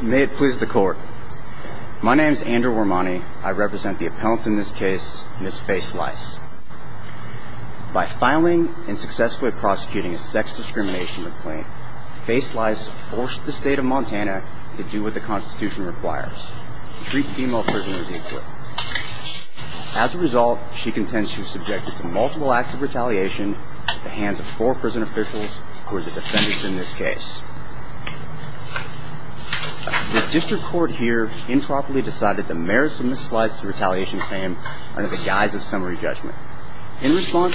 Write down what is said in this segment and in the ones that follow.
May it please the court. My name is Andrew Armani. I represent the appellant in this case, Ms. Faislice. By filing and successfully prosecuting a sex discrimination complaint, Faislice forced the state of Montana to do what the Constitution requires, treat female prisoners equally. As a result, she contends she was subjected to multiple acts of retaliation at the hands of four prison officials who were the defendants in this case. The district court here improperly decided the merits of Ms. Slice's retaliation claim under the guise of summary judgment. In response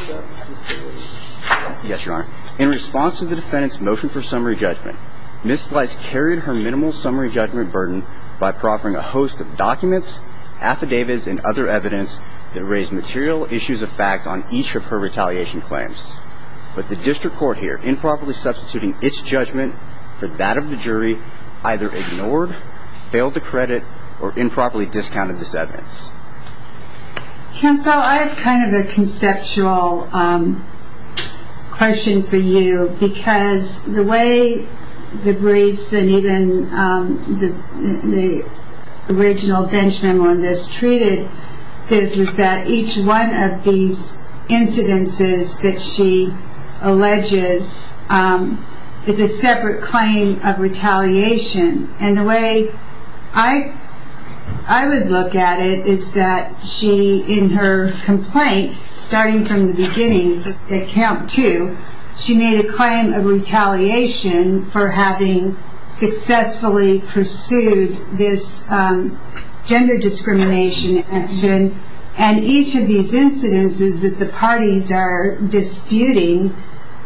to the defendant's motion for summary judgment, Ms. Slice carried her minimal summary judgment burden by proffering a host of documents, affidavits, and other evidence that raised material issues of fact on each of her retaliation claims. But the district court here, improperly substituting its judgment for that of the jury, either ignored, failed to credit, or improperly discounted this evidence. Counsel, I have kind of a conceptual question for you because the way the briefs and even the original bench memo on this treated this was that each one of these incidences that she alleges is a separate claim of retaliation. And the way I would look at it is that she, in her complaint, starting from the beginning, at count two, she made a claim of retaliation for having successfully pursued this gender discrimination action. And each of these incidences that the parties are disputing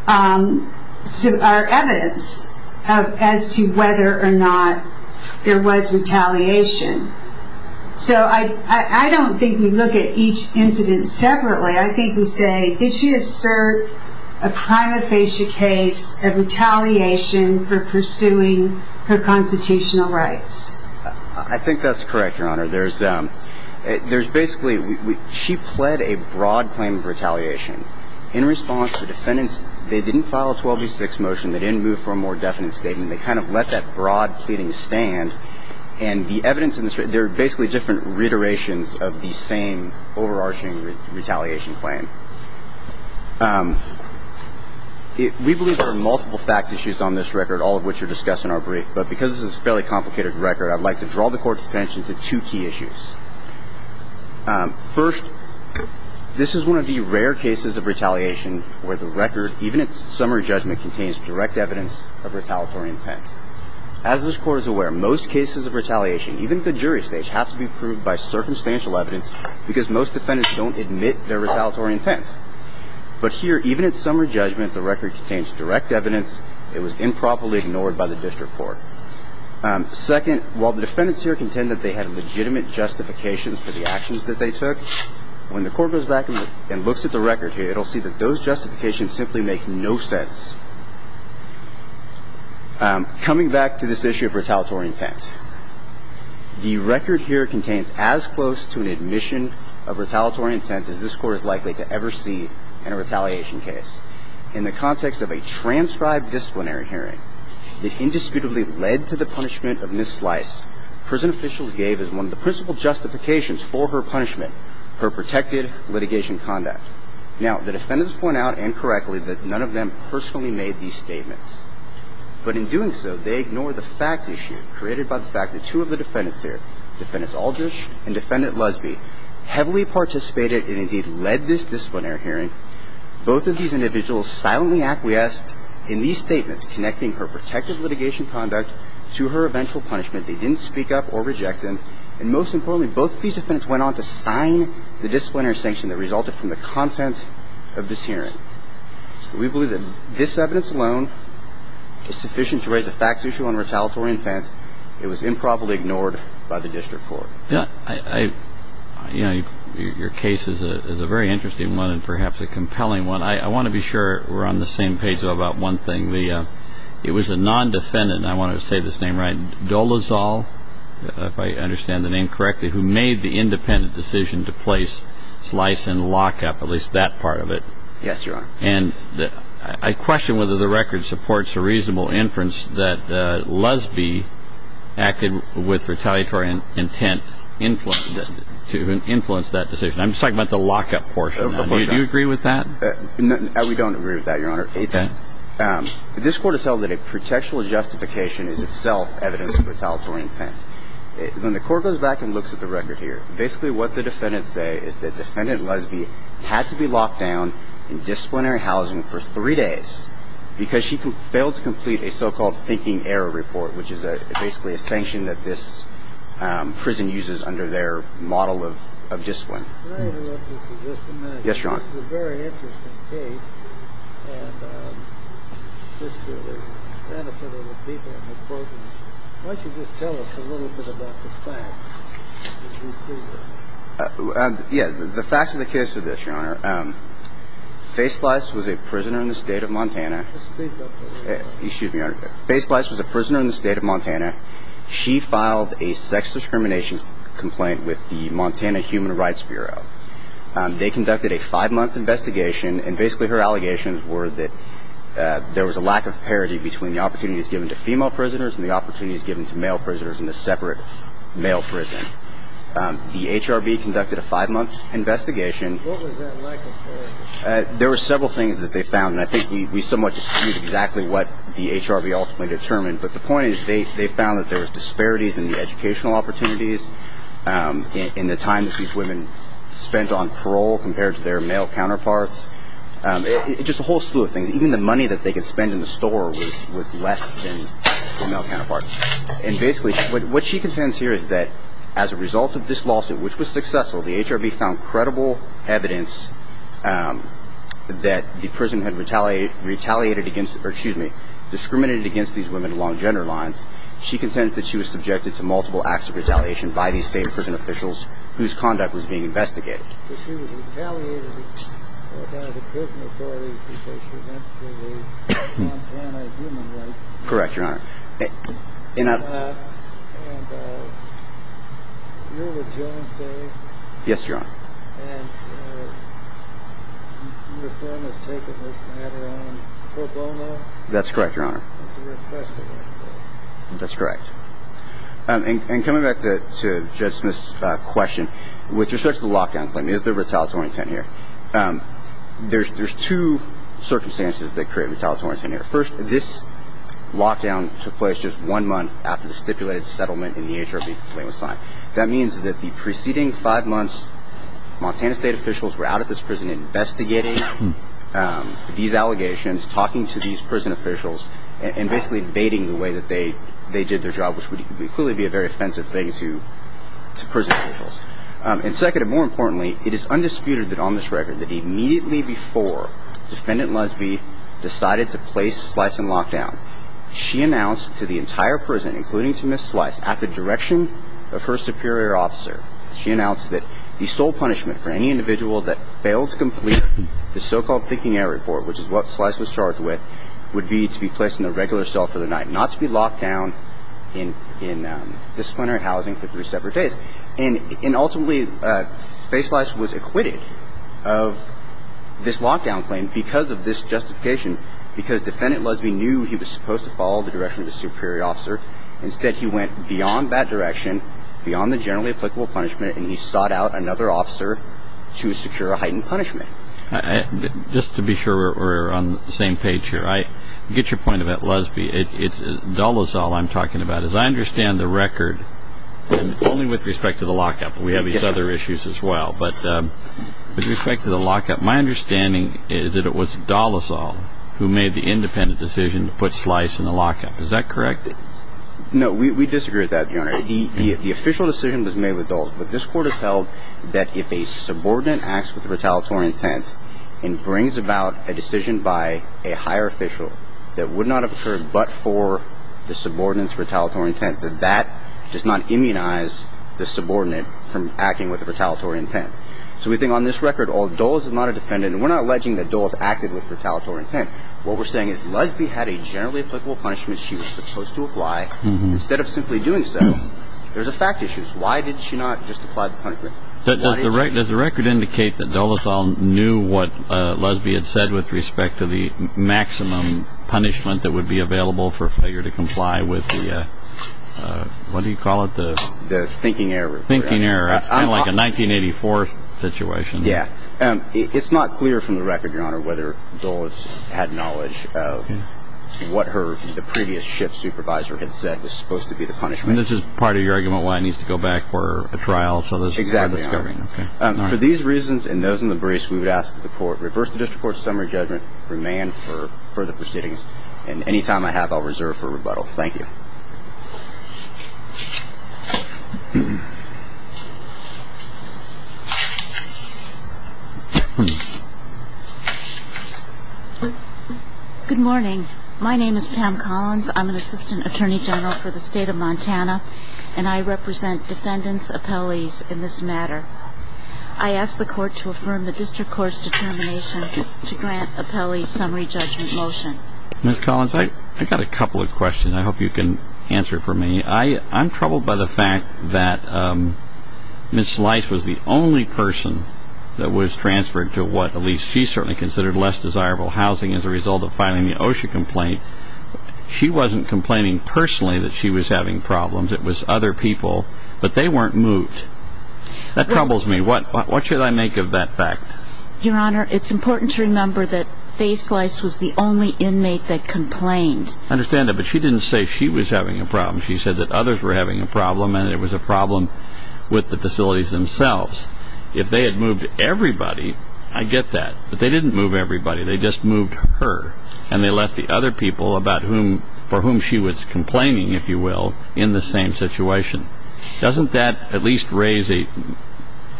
are evidence as to whether or not there was retaliation. So I don't think we look at each incident separately. I think we say, did she assert a prima facie case of retaliation for pursuing her constitutional rights? I think that's correct, Your Honor. There's basically, she pled a broad claim of retaliation. In response, the defendants, they didn't file a 12-6 motion. They didn't move for a more definite statement. They kind of let that broad pleading stand. And the evidence in this, there are basically different reiterations of the same overarching retaliation claim. We believe there are multiple fact issues on this record, all of which are discussed in our brief. I'd like to draw the Court's attention to two key issues. First, this is one of the rare cases of retaliation where the record, even at summary judgment, contains direct evidence of retaliatory intent. As this Court is aware, most cases of retaliation, even at the jury stage, have to be proved by circumstantial evidence because most defendants don't admit their retaliatory intent. But here, even at summary judgment, the record contains direct evidence. It was improperly ignored by the district court. Second, while the defendants here contend that they had legitimate justifications for the actions that they took, when the Court goes back and looks at the record here, it'll see that those justifications simply make no sense. Coming back to this issue of retaliatory intent, the record here contains as close to an admission of retaliatory intent as this Court is likely to ever see in a retaliation case. In the context of a transcribed disciplinary hearing that indisputably led to the punishment of Ms. Slice, prison officials gave as one of the principal justifications for her punishment, her protected litigation conduct. Now, the defendants point out, and correctly, that none of them personally made these statements. But in doing so, they ignore the fact issue created by the fact that two of the defendants here, Defendant Aldrich and Defendant Lusby, heavily participated and, indeed, led this disciplinary hearing. Both of these individuals silently acquiesced in these statements connecting her protected litigation conduct to her eventual punishment. They didn't speak up or reject them. And most importantly, both these defendants went on to sign the disciplinary sanction that resulted from the content of this hearing. We believe that this evidence alone is sufficient to raise the facts issue on retaliatory intent. It was improperly ignored by the District Court. Yeah, I, you know, your case is a very interesting one and perhaps a compelling one. I want to be sure we're on the same page about one thing. The, you know, it was a non-defendant, and I want to say this name right, Dolezal, if I understand the name correctly, who made the independent decision to place slice and lockup, at least that part of it. Yes, Your Honor. And I question whether the record supports a reasonable inference that Lusby acted with retaliatory intent to influence that decision. I'm just talking about the lockup portion. Do you agree with that? No, we don't agree with that, Your Honor. It's, this Court has had a very justification is itself evidence of retaliatory intent. When the Court goes back and looks at the record here, basically what the defendants say is that Defendant Lusby had to be locked down in disciplinary housing for three days because she failed to complete a so-called thinking error report, which is basically a sanction that this prison uses under their model of discipline. May I interrupt you for just a minute? Yes, Your Honor. This is a very interesting case, and this is for the benefit of the people in the program. Why don't you just tell us a little bit about the facts as we see them? Yeah, the facts of the case are this, Your Honor. Face Slice was a prisoner in the state of Montana. Speak up for the record. Excuse me, Your Honor. Face Slice was a prisoner in the state of Montana. She filed a sex discrimination complaint with the Montana Human Rights Bureau. They conducted a five-month investigation, and basically her allegations were that there was a lack of parity between the opportunities given to female prisoners and the opportunities given to male prisoners in a separate male prison. The HRB conducted a five-month investigation. What was that lack of parity? There were several things that they found, and I think we somewhat discussed exactly what the HRB ultimately determined, but the point is they found that there was disparities in the educational opportunities, in the time that these women spent on parole compared to their male counterparts, just a whole slew of things. Even the money that they could spend in the store was less than their male counterparts. And basically what she contends here is that as a result of this lawsuit, which was successful, the HRB found credible evidence that the prison had retaliated against, or excuse me, discriminated against these women along gender lines. She contends that she was subjected to multiple acts of retaliation by these same prison officials whose conduct was being investigated. But she was retaliated against by the prison authorities because she went through the Montana Human Rights Act. Correct, Your Honor. And Eula Jones Day. Yes, Your Honor. And your firm has taken this matter on pro bono. That's correct, Your Honor. That's correct. And coming back to Judge Smith's question, with respect to the lockdown claim, is there retaliatory intent here? There's two circumstances that create retaliatory intent here. First, this lockdown took place just one month after the stipulated settlement in the HRB claim was signed. That means that the preceding five months, Montana state officials were out at this prison investigating these allegations, talking to these prison officials, and basically baiting the way that they did their job, which would have led to prison officials. And second, and more importantly, it is undisputed that on this record that immediately before Defendant Lusby decided to place Slice in lockdown, she announced to the entire prison, including to Ms. Slice, at the direction of her superior officer, she announced that the sole punishment for any individual that failed to complete the so-called thinking error report, which is what Slice was charged with, would be to be placed in a regular cell for the night, not to be locked down in disciplinary housing for three separate days. And ultimately, Face Slice was acquitted of this lockdown claim because of this justification, because Defendant Lusby knew he was supposed to follow the direction of his superior officer. Instead, he went beyond that direction, beyond the generally applicable punishment, and he sought out another officer to secure a heightened punishment. Just to be sure we're on the same page here, I get your point about Lusby. It's just that I don't understand the record, and it's only with respect to the lockup. We have these other issues as well. But with respect to the lockup, my understanding is that it was Dallasall who made the independent decision to put Slice in the lockup. Is that correct? No, we disagree with that, Your Honor. The official decision was made with Dallasall. But this Court has held that if a subordinate acts with retaliatory intent and brings about a decision by a higher official that would not have occurred but for the subordinate's retaliatory intent, that that does not immunize the subordinate from acting with retaliatory intent. So we think on this record, Dulles is not a defendant, and we're not alleging that Dulles acted with retaliatory intent. What we're saying is Lusby had a generally applicable punishment she was supposed to apply. Instead of simply doing so, there's a fact issue. Why did she not just apply the punishment? Does the record indicate that Dallasall knew what Lusby had said with respect to the thinking error? It's kind of like a 1984 situation. It's not clear from the record, Your Honor, whether Dulles had knowledge of what the previous shift supervisor had said was supposed to be the punishment. For these reasons and those in the briefs, we would ask that the Court reverse the District Court's summary judgment, remand for further proceedings. And any time I have, I'll reserve for rebuttal. Thank you. Good morning. My name is Pam Collins. I'm an Assistant Attorney General for the State of Montana, and I represent defendants, appellees in this matter. I ask the Court to affirm the District Court's determination to grant the appellee's summary judgment motion. Ms. Collins, I've got a couple of questions I hope you can answer for me. I'm troubled by the fact that Ms. Slice was the only person that was transferred to what at least she certainly considered less desirable housing as a result of filing the OSHA complaint. She wasn't complaining personally that she was having problems. It was other people, but they weren't moved. That troubles me. What should I make of that fact? Your Honor, it's important to remember that Faye Slice was the only inmate that complained. I understand that, but she didn't say she was having a problem. She said that others were having a problem, and it was a problem with the facilities themselves. If they had moved everybody, I get that, but they didn't move everybody. They just moved her, and they left the other people for whom she was complaining, if you will, in the same situation. Doesn't that at least raise a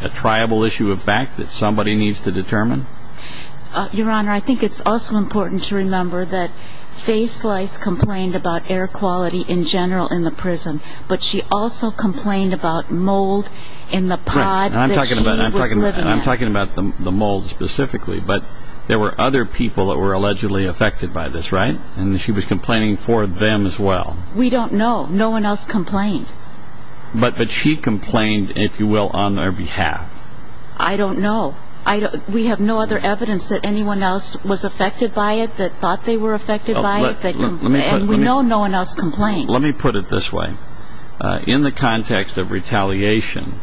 triable issue of fact that somebody needs to determine? Your Honor, I think it's also important to remember that Faye Slice complained about air quality in general in the prison, but she also complained about mold in the pod that she was living in. I'm talking about the mold specifically, but there were other people that were allegedly affected by this, right? And she was complaining for them as well. We don't know. No one else complained. But she complained, if you will, on their behalf. I don't know. We have no other evidence that anyone else was affected by it, that thought they were affected by it, and we know no one else complained. Let me put it this way. In the context of retaliation,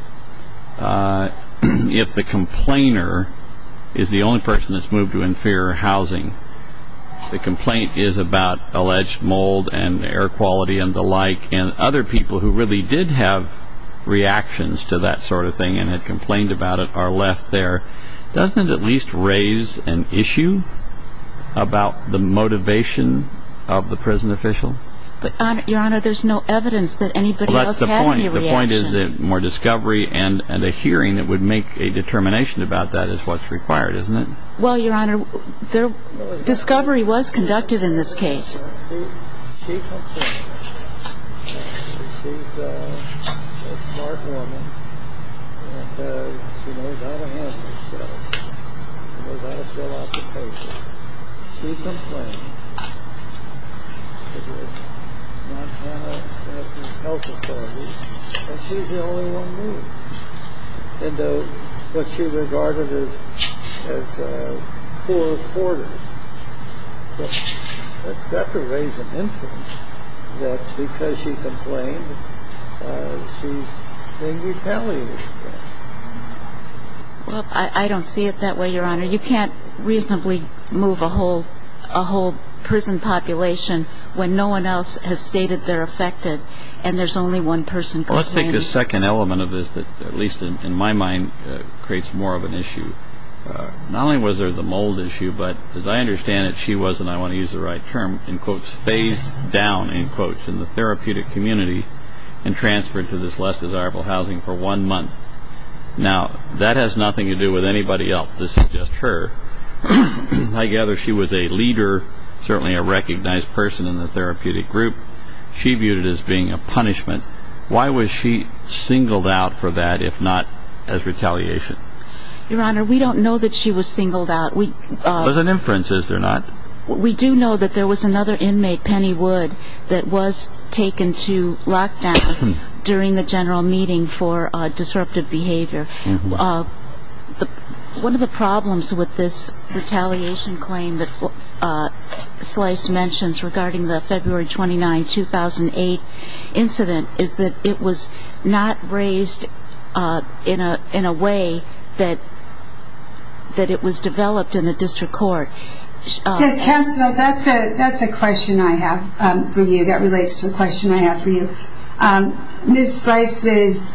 if the complainer is the only person that's moved to inferior housing, the complaint is about alleged mold and air quality and the like, and other people who really did have reactions to that sort of thing and had complained about it are left there. Doesn't it at least raise an issue about the motivation of the prison official? Your Honor, there's no evidence that anybody else had any reaction. The point is that more discovery and a hearing that would make a determination about that is what's required, isn't it? Well, Your Honor, discovery was conducted in this case. She complained. She's a smart woman and she knows how to handle herself and knows how to fill out the papers. She complained to the Montana Health Authority and she's the only one moved into what she regarded as poor quarters. It's got to raise an interest that because she complained, she's being retaliated against. Well, I don't see it that way, Your Honor. You can't reasonably move a whole prison population when no one else has stated they're affected and there's only one person. Well, let's take the second element of this that, at least in my mind, creates more of an issue. Not only was she, and I want to use the right term, phased down in the therapeutic community and transferred to this less desirable housing for one month. Now, that has nothing to do with anybody else. This is just her. I gather she was a leader, certainly a recognized person in the therapeutic group. She viewed it as being a punishment. Why was she singled out for that, if not as retaliation? Your Honor, we don't know that she was singled out. There was an inference, is there not? We do know that there was another inmate, Penny Wood, that was taken to lockdown during the general meeting for disruptive behavior. One of the problems with this retaliation claim that Slice mentions regarding the February 29, 2008 incident is that it was not raised in a way that it was developed in a district court. Yes, counsel, that's a question I have for you. That relates to a question I have for you. Ms. Slice was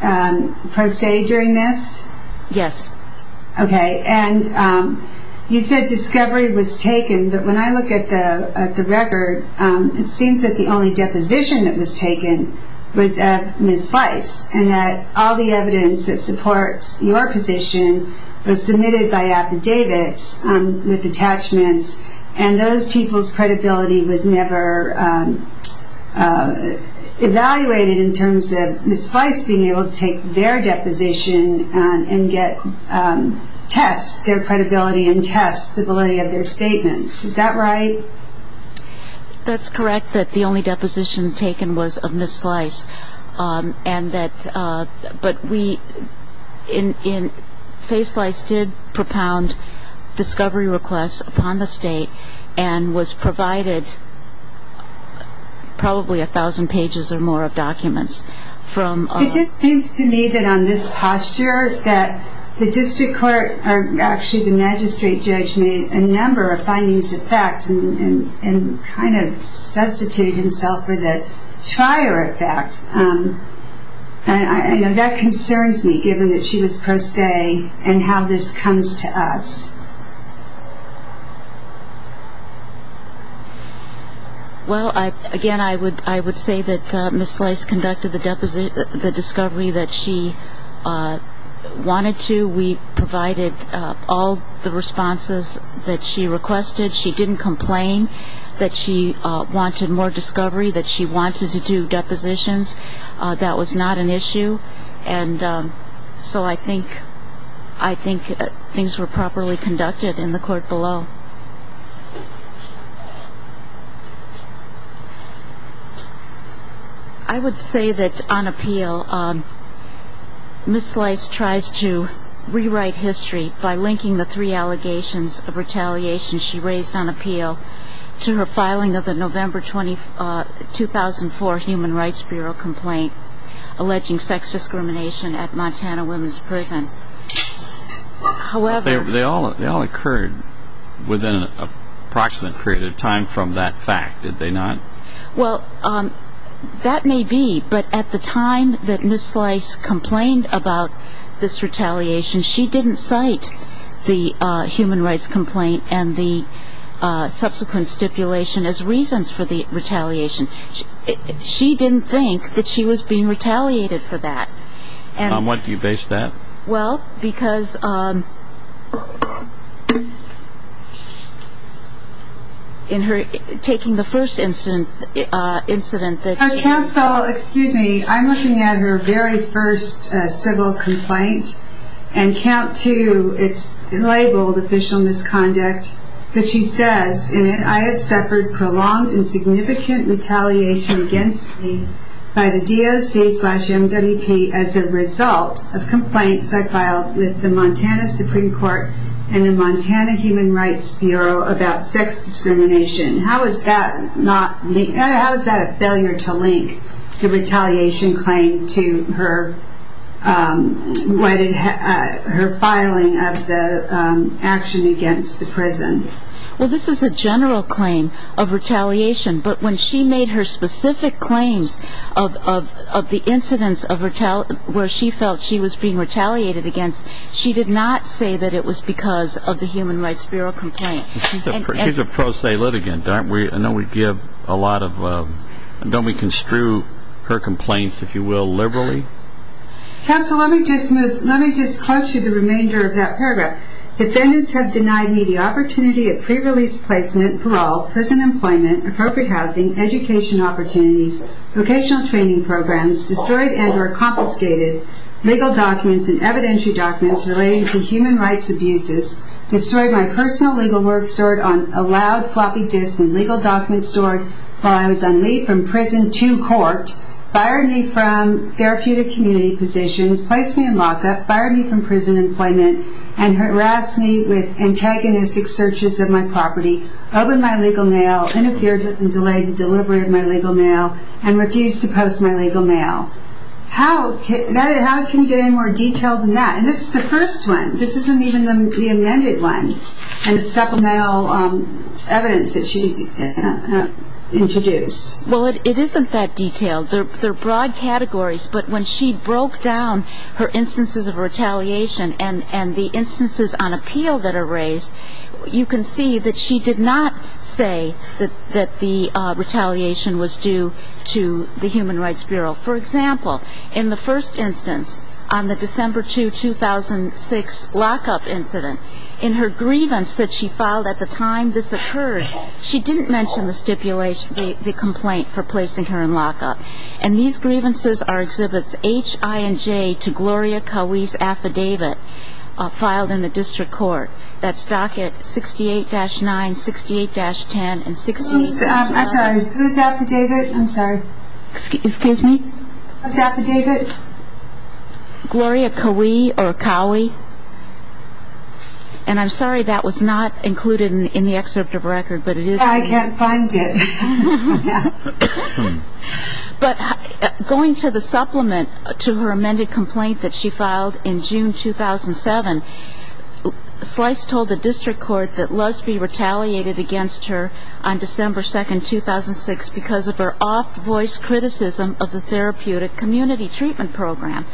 pro se during this? Yes. Okay. You said discovery was taken, but when I look at the record, it seems that the only deposition that was taken was of Ms. Slice, and that all the evidence that supports your position was submitted by affidavits with attachments, and those people's credibility was never evaluated in terms of Ms. Slice being able to take their deposition and get tests, their credibility and tests, the validity of their statements. Is that right? That's correct, that the only deposition taken was of Ms. Slice, and that but we, in, Face Slice did propound discovery requests upon the state and was provided probably a thousand pages or more of documents. It just seems to me that on this posture that the district court, or actually the magistrate judge made a number of findings of fact and kind of substituted himself for the trier effect. And that concerns me, given that she was pro se and how this comes to us. Well, again, I would say that Ms. Slice conducted the discovery that she wanted to. We provided all the responses that she requested. She didn't complain that she wanted more discovery, that she wanted to do depositions. That was not an issue. And so I think things were properly conducted in the court below. I would say that on appeal, Ms. Slice tries to rewrite history by linking the three allegations of retaliation she raised on appeal to her 2004 Human Rights Bureau complaint alleging sex discrimination at Montana women's prisons. However, They all occurred within an approximate period of time from that fact, did they not? That may be, but at the time that Ms. Slice complained about this retaliation, she didn't cite the human rights complaint and the subsequent stipulation as reasons for the retaliation. She didn't think that she was being retaliated for that. On what do you base that? Well, because in her taking the first incident that she... Counsel, excuse me, I'm looking at her very first civil complaint, and count two, it's labeled official misconduct, but she says in it, I have suffered prolonged and significant retaliation against me by the DOC slash MWP as a result of complaints I filed with the Montana Supreme Court and the Montana Human Rights Bureau about sex discrimination. How is that a failure to link the retaliation claim to her filing of the action against the prison? Well, this is a general claim of retaliation, but when she made her specific claims of the incidents where she felt she was being retaliated against, she did not say that it was because of the Human Rights Bureau complaint. She's a pro se litigant. I know we give a lot of... Don't we construe her complaints, if you will, liberally? Counsel, let me just quote you the remainder of that paragraph. Defendants have denied me the opportunity at pre-release placement, parole, prison employment, appropriate housing, education opportunities, vocational training programs, destroyed and or confiscated legal documents and evidentiary documents relating to human rights abuses, destroyed my personal legal work stored on a loud floppy disk and legal documents stored while I was on leave from prison to court, fired me from therapeutic community positions, placed me in lockup, fired me from prison employment and harassed me with antagonistic searches of my property, opened my legal mail, interfered and delayed the delivery of my legal mail and refused to post my legal mail. How can you get any more detailed than that? And this is the first one. This isn't even the amended one and the supplemental evidence that she introduced. Well, it isn't that detailed. They're broad categories, but when she mentions the retaliation and the instances on appeal that are raised, you can see that she did not say that the retaliation was due to the Human Rights Bureau. For example, in the first instance, on the December 2, 2006 lockup incident, in her grievance that she filed at the time this occurred, she didn't mention the stipulation, the complaint for placing her in lockup. And these grievances are exhibits H-I-N-J to Gloria Cowie's affidavit filed in the district court that's docket 68-9, 68-10 and 68-12. Who's affidavit? Gloria Cowie. And I'm sorry that was not included in the excerpt of record. I can't find it. But going to the supplement to her amended complaint that she filed in June 2007, Slice told the district court that Lusby retaliated against her on December 2, 2006 because of her off-voice criticism of the therapeutic community treatment program.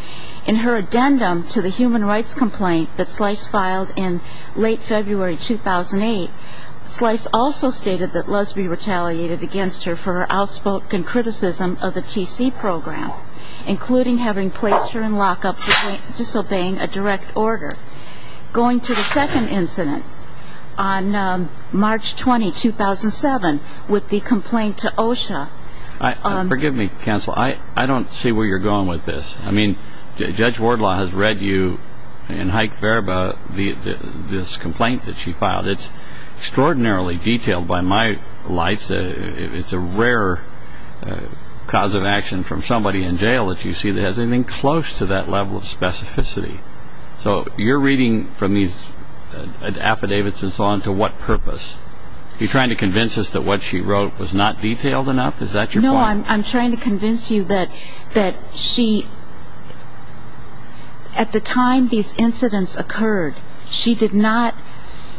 In her addendum to the human rights complaint that Slice filed in late February 2008, Slice also stated that Lusby retaliated against her for her outspoken criticism of the TC program, including having placed her in lockup disobeying a direct order. Going to the second incident on March 20, 2007, with the complaint to OSHA. I don't see where you're going with this. Judge Wardlaw has read you in Haik Verba this complaint that she filed. It's extraordinarily detailed by my lights. It's a rare cause of action from somebody in jail that you see that has anything close to that level of specificity. So you're reading from these affidavits and so on to what purpose? Are you trying to convince us that what she wrote was not detailed enough? Is that your point? No, I'm trying to convince you that she at the time these incidents occurred, she did not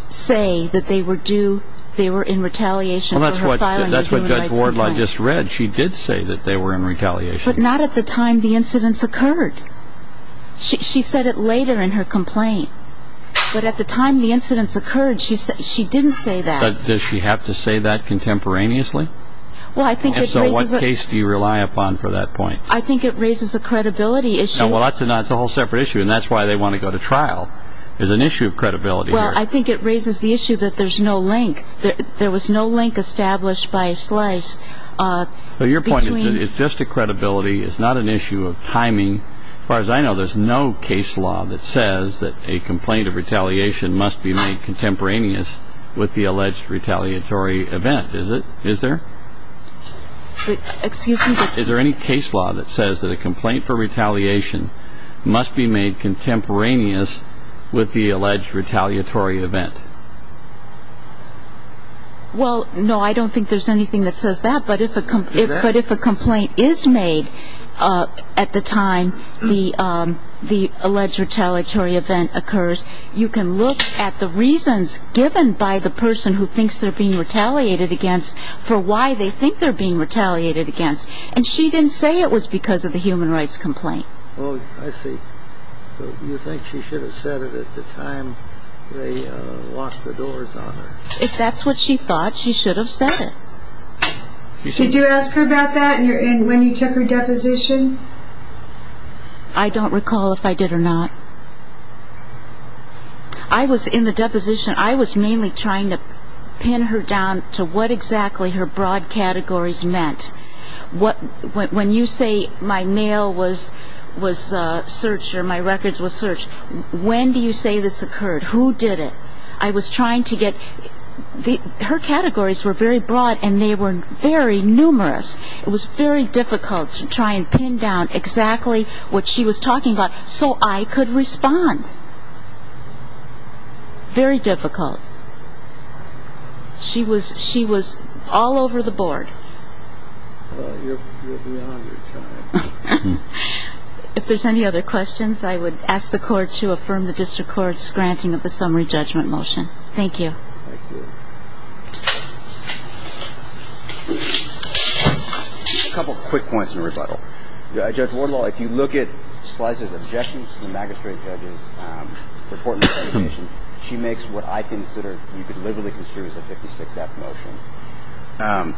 say that they were in retaliation. That's what Judge Wardlaw just read. She did say that they were in retaliation. But not at the time the incidents occurred. She said it later in her complaint. But at the time the incidents occurred, she didn't say that. Does she have to say that contemporaneously? What case do you rely upon for that point? I think it raises a credibility issue. That's a whole separate issue and that's why they want to go to trial. There's an issue of credibility here. Well, I think it raises the issue that there's no link. There was no link established by Slice. Your point is that it's just a credibility. It's not an issue of timing. As far as I know, there's no case law that says that a complaint of retaliation must be made contemporaneous with the alleged retaliatory event. Is there? Excuse me? Is there any case law that says that a complaint for retaliation must be made contemporaneous with the alleged retaliatory event? Well, no. I don't think there's anything that says that. But if a complaint is made at the time the alleged retaliatory event occurs, you can look at the reasons given by the person who thinks they're being retaliated against for why they think they're being retaliated against. And she didn't say it was because of the human rights complaint. Well, I see. But you think she should have said it at the time they locked the doors on her? If that's what she thought, she should have said it. Could you ask her about that and when you took her deposition? I don't recall if I did or not. I was in the deposition. I was mainly trying to pin her down to what exactly her broad categories meant. When you say my mail was searched or my records were searched, when do you say this occurred? Who did it? I was trying to get her categories were very broad and they were very numerous. It was very difficult to try and pin down exactly what she was talking about so I could respond. Very difficult. She was all over the board. Well, you're beyond your time. If there's any other questions, I would ask the court to affirm the district court's granting of the summary judgment motion. Thank you. Thank you. A couple quick points in rebuttal. Judge Wardlaw, if you look at Slicer's objections to the magistrate judge's report she makes what I consider you could literally consider as a 56-F motion.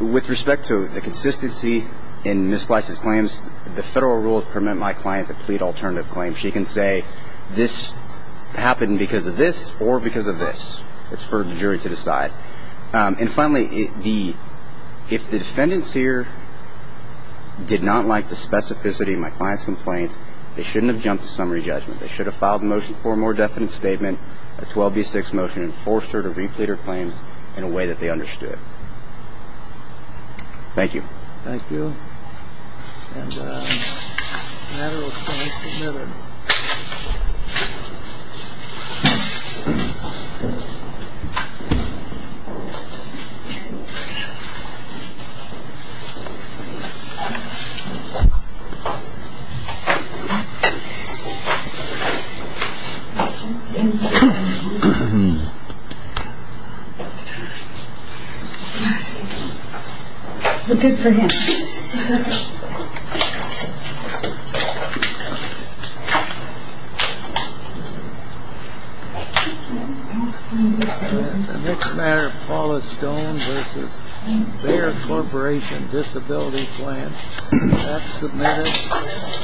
With respect to the consistency in Ms. Slicer's claims, the federal rules permit my client to plead alternative claims. She can say this happened because of this or because of this. It's for the jury to decide. And finally, if the defendants here did not like the specificity of my client's complaint, they shouldn't have jumped to summary judgment. They should have filed a motion for a more definite statement, a 12B6 motion and forced her to replete her claims in a way that they understood. Thank you.